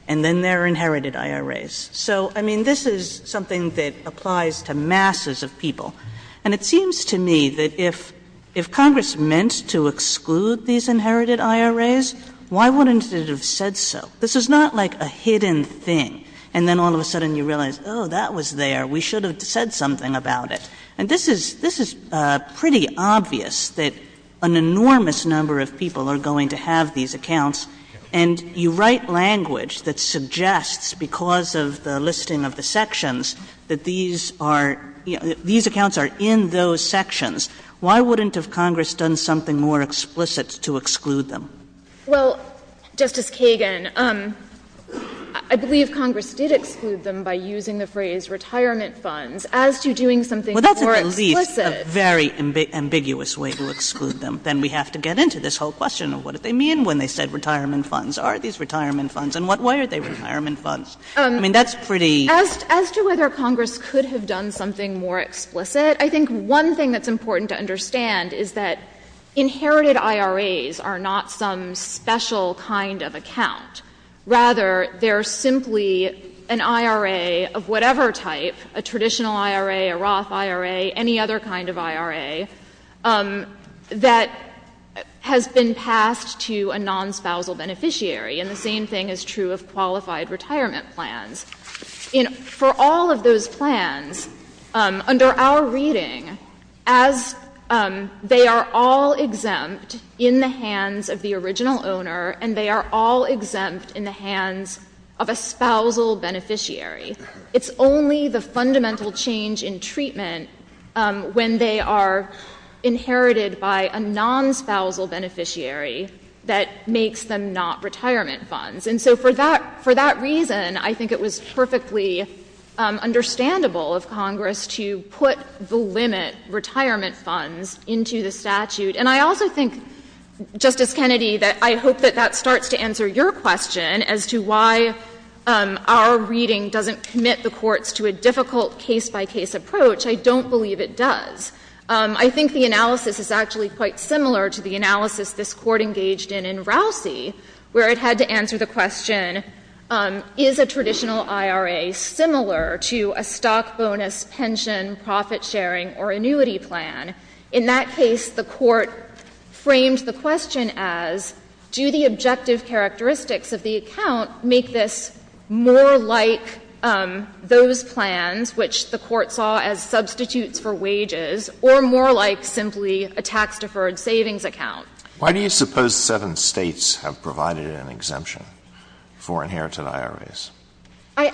and then they're inherited IRAs. So, I mean, this is something that applies to masses of people. And it seems to me that if Congress meant to exclude these inherited IRAs, why wouldn't it have said so? This is not like a hidden thing, and then all of a sudden you realize, oh, that was there. We should have said something about it. And this is pretty obvious that an enormous number of people are going to have these accounts, and you write language that suggests, because of the listing of the sections, that these are ‑‑ these accounts are in those sections. Why wouldn't have Congress done something more explicit to exclude them? Well, Justice Kagan, I believe Congress did exclude them by using the phrase retirement funds as to doing something more explicit. Well, that's at least a very ambiguous way to exclude them. Then we have to get into this whole question of what did they mean when they said retirement funds? Are these retirement funds? And why are they retirement funds? I mean, that's pretty ‑‑ As to whether Congress could have done something more explicit, I think one thing that's important to understand is that inherited IRAs are not some special kind of account. Rather, they're simply an IRA of whatever type, a traditional IRA, a Roth IRA, any other kind of IRA, that has been passed to a nonspousal beneficiary. And the same thing is true of qualified retirement plans. In ‑‑ for all of those plans, under our reading, as they are all exempt in the hands of the original owner, and they are all exempt in the hands of a spousal beneficiary. It's only the fundamental change in treatment when they are inherited by a nonspousal beneficiary that makes them not retirement funds. And so for that reason, I think it was perfectly understandable of Congress to put the limit retirement funds into the statute. And I also think, Justice Kennedy, that I hope that that starts to answer your question as to why our reading doesn't commit the courts to a difficult case-by-case approach. I don't believe it does. I think the analysis is actually quite similar to the analysis this Court engaged in in Rousey, where it had to answer the question, is a traditional IRA similar to a stock bonus, pension, profit sharing, or annuity plan? In that case, the Court framed the question as, do the objective characteristics of the account make this more like those plans, which the Court saw as substitutes for wages, or more like simply a tax-deferred savings account? Why do you suppose seven States have provided an exemption for inherited IRAs?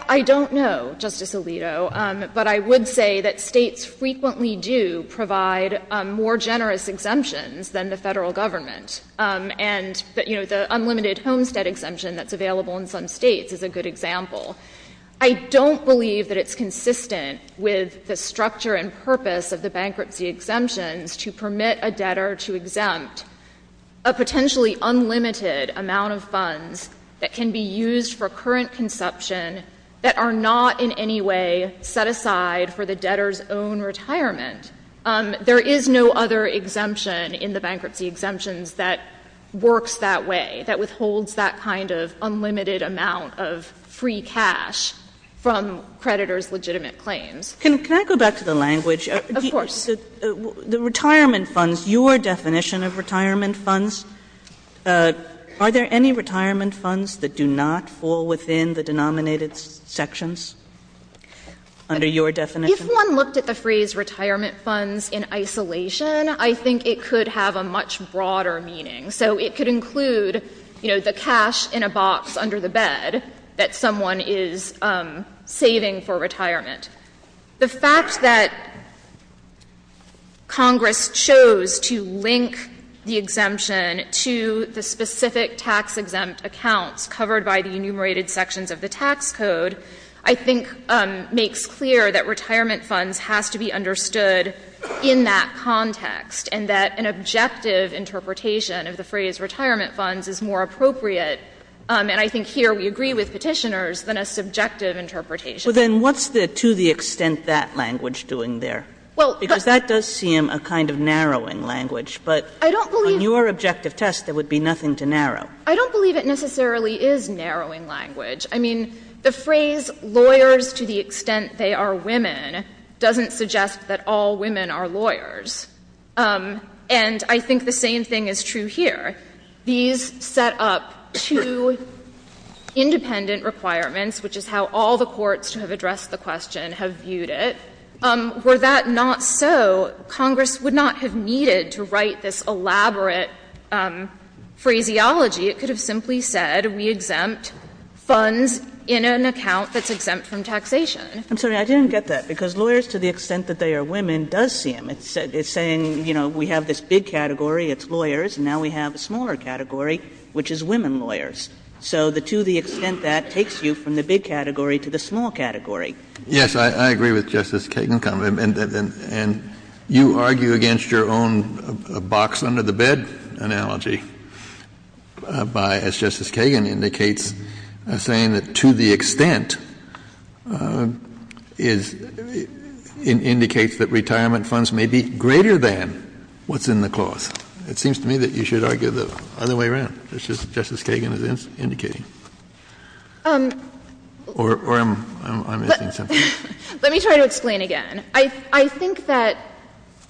I don't know, Justice Alito. But I would say that States frequently do provide more generous exemptions than the Federal Government. And the unlimited homestead exemption that's available in some States is a good example. I don't believe that it's consistent with the structure and purpose of the bankruptcy exemptions to permit a debtor to exempt a potentially unlimited amount of funds that can be used for current consumption that are not in any way set aside for the debtor's own retirement. There is no other exemption in the bankruptcy exemptions that works that way, that withholds that kind of unlimited amount of free cash from creditors' legitimate claims. Can I go back to the language? Of course. The retirement funds, your definition of retirement funds, are there any retirement funds that do not fall within the denominated sections under your definition? If one looked at the phrase retirement funds in isolation, I think it could have a much broader meaning. So it could include, you know, the cash in a box under the bed that someone is saving for retirement. The fact that Congress chose to link the exemption to the specific tax-exempt accounts covered by the enumerated sections of the tax code, I think, makes clear that retirement funds has to be understood in that context and that an objective interpretation of the phrase retirement funds is more appropriate, and I think here we agree with Petitioners, than a subjective interpretation. But then what's the to the extent that language doing there? Well, but that does seem a kind of narrowing language, but I don't believe your objective test, there would be nothing to narrow. I don't believe it necessarily is narrowing language. I mean, the phrase lawyers to the extent they are women doesn't suggest that all women are lawyers. And I think the same thing is true here. These set up two independent requirements, which is how all the courts who have addressed the question have viewed it. Were that not so, Congress would not have needed to write this elaborate phraseology. It could have simply said we exempt funds in an account that's exempt from taxation. I'm sorry, I didn't get that, because lawyers to the extent that they are women does see them. It's saying, you know, we have this big category, it's lawyers, and now we have a smaller category, which is women lawyers. So the to the extent that takes you from the big category to the small category. Kennedy, yes, I agree with Justice Kagan. And you argue against your own box under the bed analogy by, as Justice Kagan indicates, saying that to the extent is indicates that retirement funds may be greater than what's in the clause. It seems to me that you should argue the other way around, as Justice Kagan is indicating. Or am I missing something? Let me try to explain again. I think that,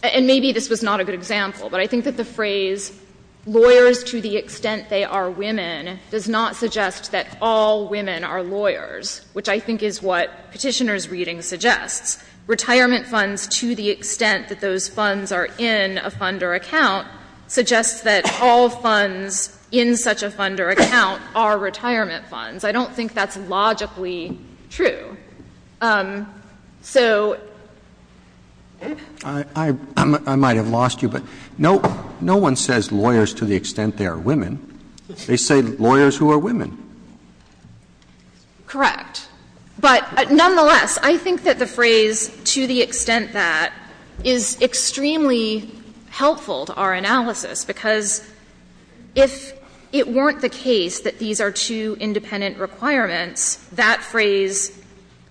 and maybe this was not a good example, but I think that the phrase lawyers to the extent they are women does not suggest that all women are lawyers, which I think is what Petitioner's reading suggests. Retirement funds to the extent that those funds are in a fund or account suggests that all funds in such a fund or account are retirement funds. I don't think that's logically true. So ---- Roberts. I might have lost you, but no one says lawyers to the extent they are women. They say lawyers who are women. Correct. But nonetheless, I think that the phrase to the extent that is extremely helpful to our analysis, because if it weren't the case that these are two independent requirements, that phrase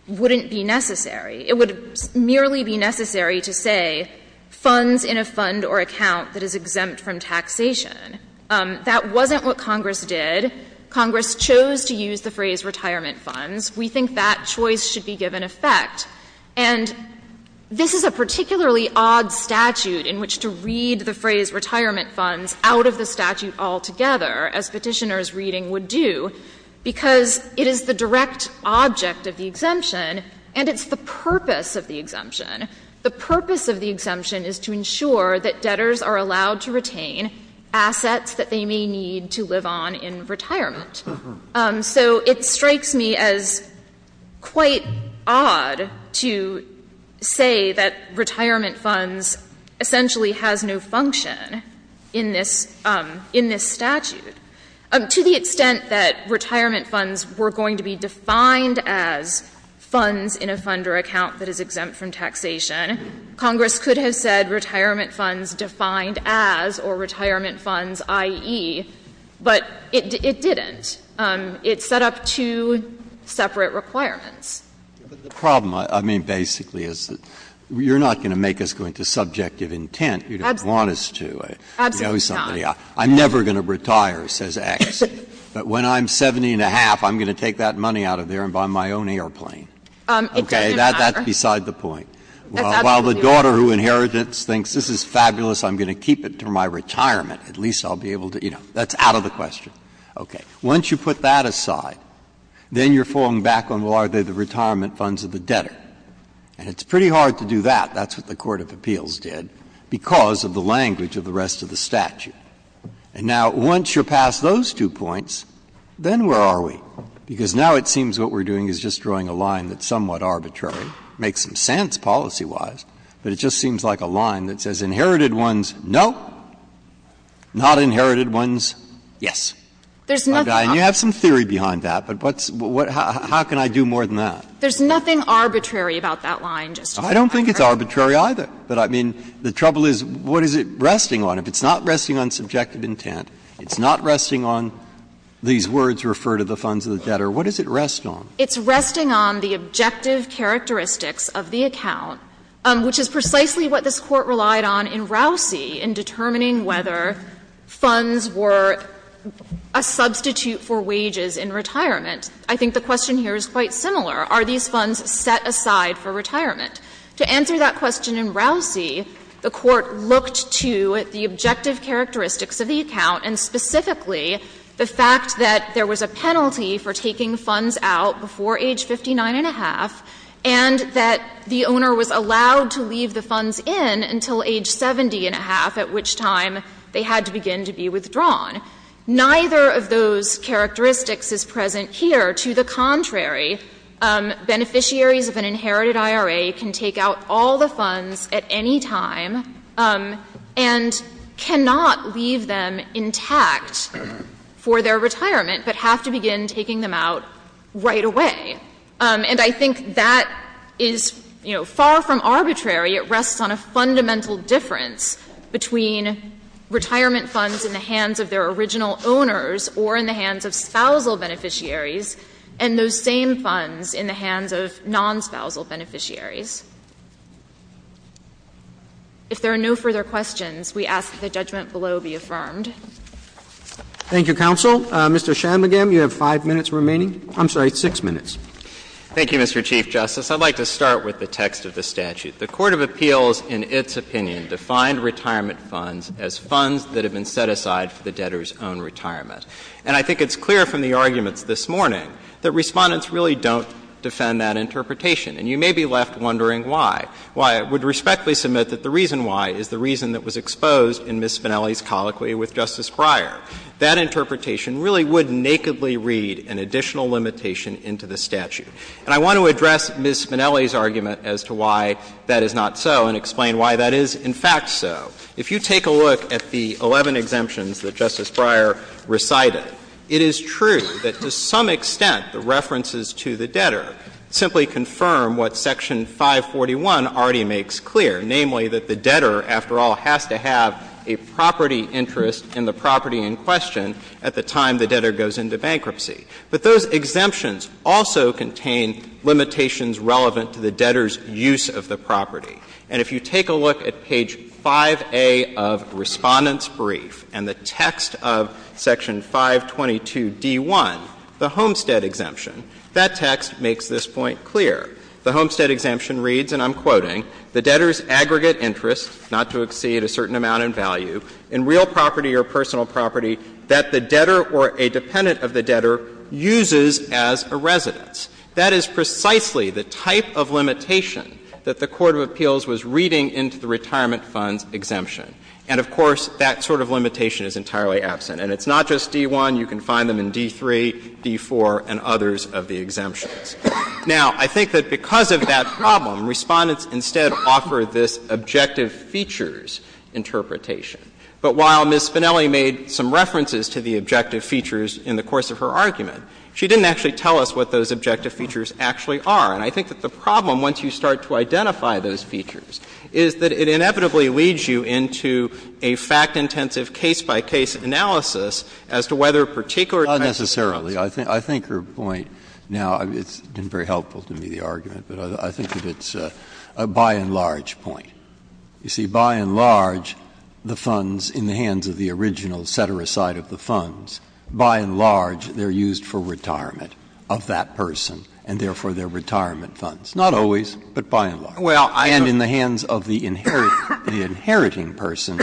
wouldn't be necessary. It would merely be necessary to say funds in a fund or account that is exempt from taxation. That wasn't what Congress did. Congress chose to use the phrase retirement funds. We think that choice should be given effect. And this is a particularly odd statute in which to read the phrase retirement funds out of the statute altogether, as Petitioner's reading would do, because it is the direct object of the exemption, and it's the purpose of the exemption. The purpose of the exemption is to ensure that debtors are allowed to retain assets that they may need to live on in retirement. So it strikes me as quite odd to say that retirement funds essentially has no function in this statute. To the extent that retirement funds were going to be defined as funds in a fund or account that is exempt from taxation, Congress could have said retirement funds defined as or retirement funds, i.e., but it didn't. It set up two separate requirements. Breyer, but the problem, I mean, basically, is that you're not going to make us go into subjective intent. You don't want us to know somebody. I'm never going to retire, says X, but when I'm 70-and-a-half, I'm going to take that money out of there and buy my own airplane. Okay. That's beside the point. While the daughter who inherits it thinks this is fabulous, I'm going to keep it until my retirement. At least I'll be able to, you know, that's out of the question. Okay. Once you put that aside, then you're falling back on, well, are they the retirement funds of the debtor? And it's pretty hard to do that. That's what the court of appeals did, because of the language of the rest of the statute. And now, once you're past those two points, then where are we? Because now it seems what we're doing is just drawing a line that's somewhat arbitrary, makes some sense policy-wise, but it just seems like a line that says inherited ones, no, not inherited ones, yes. There's nothing arbitrary. Breyer, and you have some theory behind that, but what's — how can I do more than that? There's nothing arbitrary about that line, Justice Breyer. I don't think it's arbitrary either. But, I mean, the trouble is, what is it resting on? If it's not resting on subjective intent, it's not resting on these words, refer to the funds of the debtor, what does it rest on? It's resting on the objective characteristics of the account, which is precisely what this Court relied on in Rousey in determining whether funds were a substitute for wages in retirement. I think the question here is quite similar. Are these funds set aside for retirement? To answer that question in Rousey, the Court looked to the objective characteristics of the account, and specifically the fact that there was a penalty for taking funds out before age 59 and a half, and that the owner was allowed to leave the funds in until age 70 and a half, at which time they had to begin to be withdrawn. Neither of those characteristics is present here. To the contrary, beneficiaries of an inherited IRA can take out all the funds at any time and cannot leave them intact for their retirement, but have to begin taking them out right away. And I think that is, you know, far from arbitrary. It rests on a fundamental difference between retirement funds in the hands of their original owners or in the hands of spousal beneficiaries and those same funds in the hands of non-spousal beneficiaries. If there are no further questions, we ask that the judgment below be affirmed. Roberts. Thank you, counsel. Mr. Shanmugam, you have 5 minutes remaining. I'm sorry, 6 minutes. Thank you, Mr. Chief Justice. I'd like to start with the text of the statute. The Court of Appeals, in its opinion, defined retirement funds as funds that have been set aside for the debtor's own retirement. And I think it's clear from the arguments this morning that Respondents really don't defend that interpretation, and you may be left wondering why. I would respectfully submit that the reason why is the reason that was exposed in Ms. Spinelli's colloquy with Justice Breyer. That interpretation really would nakedly read an additional limitation into the statute. And I want to address Ms. Spinelli's argument as to why that is not so and explain why that is, in fact, so. If you take a look at the 11 exemptions that Justice Breyer recited, it is true that to some extent the references to the debtor simply confirm what Section 541 already makes clear, namely that the debtor, after all, has to have a property interest in the property in question at the time the debtor goes into bankruptcy. But those exemptions also contain limitations relevant to the debtor's use of the property. And if you take a look at page 5A of Respondents' brief and the text of Section 522d1, the Homestead Exemption, that text makes this point clear. The Homestead Exemption reads, and I'm quoting, that the debtor or a dependent of the debtor uses as a residence. That is precisely the type of limitation that the court of appeals was reading into the Retirement Funds Exemption. And, of course, that sort of limitation is entirely absent. And it's not just D.1. You can find them in D.3, D.4, and others of the exemptions. Now, I think that because of that problem, Respondents instead offer this objective features interpretation. But while Ms. Spinelli made some references to the objective features in the course of her argument, she didn't actually tell us what those objective features actually are. And I think that the problem, once you start to identify those features, is that it inevitably leads you into a fact-intensive case-by-case analysis as to whether a particular type of exemption works. Breyer. I think her point now, it's been very helpful to me, the argument, but I think that it's a by and large point. You see, by and large, the funds in the hands of the original setter aside of the funds, by and large, they're used for retirement of that person, and therefore they're retirement funds. Not always, but by and large. And in the hands of the inheriting person,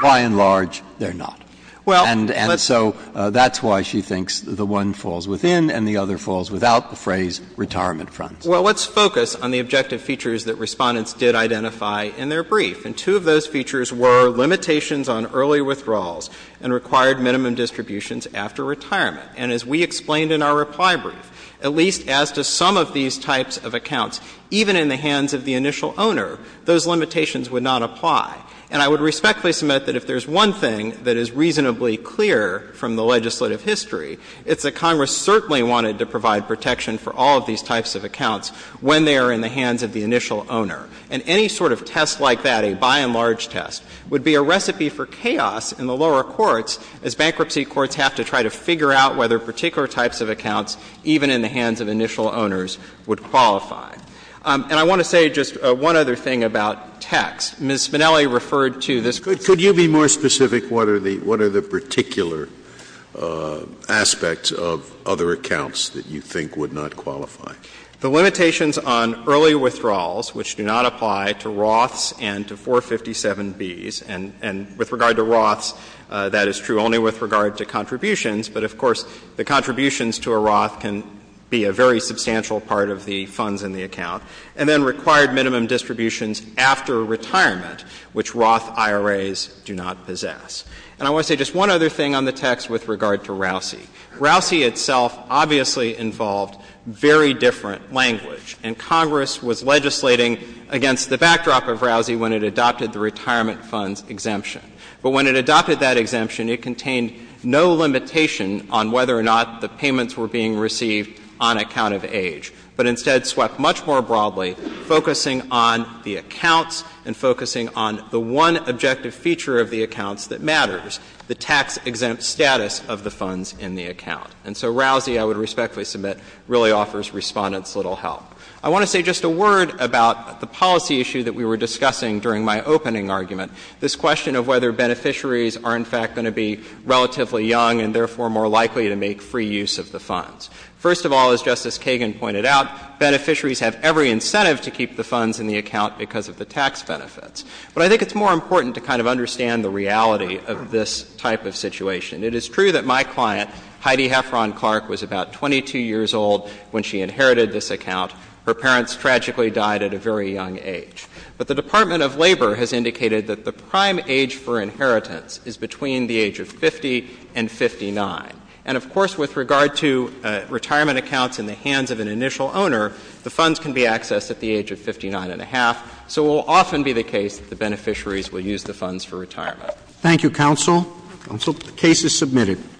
by and large, they're not. And so that's why she thinks the one falls within and the other falls without the phrase retirement funds. Well, let's focus on the objective features that Respondents did identify in their brief. And two of those features were limitations on early withdrawals and required minimum distributions after retirement. And as we explained in our reply brief, at least as to some of these types of accounts, even in the hands of the initial owner, those limitations would not apply. And I would respectfully submit that if there's one thing that is reasonably clear from the legislative history, it's that Congress certainly wanted to provide protection for all of these types of accounts when they are in the hands of the initial owner. And any sort of test like that, a by and large test, would be a recipe for chaos in the lower courts as bankruptcy courts have to try to figure out whether particular types of accounts, even in the hands of initial owners, would qualify. And I want to say just one other thing about tax. Ms. Spinelli referred to this. Scalia. Could you be more specific? What are the particular aspects of other accounts that you think would not qualify? The limitations on early withdrawals, which do not apply to Roths and to 457Bs and with regard to Roths, that is true only with regard to contributions. But of course, the contributions to a Roth can be a very substantial part of the funds in the account, and then required minimum distributions after retirement, which Roth IRAs do not possess. And I want to say just one other thing on the text with regard to Rousey. Rousey itself obviously involved very different language, and Congress was legislating against the backdrop of Rousey when it adopted the Retirement Funds Exemption. But when it adopted that exemption, it contained no limitation on whether or not the accounts and focusing on the one objective feature of the accounts that matters, the tax-exempt status of the funds in the account. And so Rousey, I would respectfully submit, really offers Respondent's little help. I want to say just a word about the policy issue that we were discussing during my opening argument, this question of whether beneficiaries are, in fact, going to be relatively young and therefore more likely to make free use of the funds. First of all, as Justice Kagan pointed out, beneficiaries have every incentive to keep the funds in the account because of the tax benefits. But I think it's more important to kind of understand the reality of this type of situation. It is true that my client, Heidi Heffron Clark, was about 22 years old when she inherited this account. Her parents tragically died at a very young age. But the Department of Labor has indicated that the prime age for inheritance is between the age of 50 and 59. And of course, with regard to retirement accounts in the hands of an initial owner, the funds can be accessed at the age of 59 and a half. So it will often be the case that the beneficiaries will use the funds for retirement. Thank you, counsel. Counsel. The case is submitted.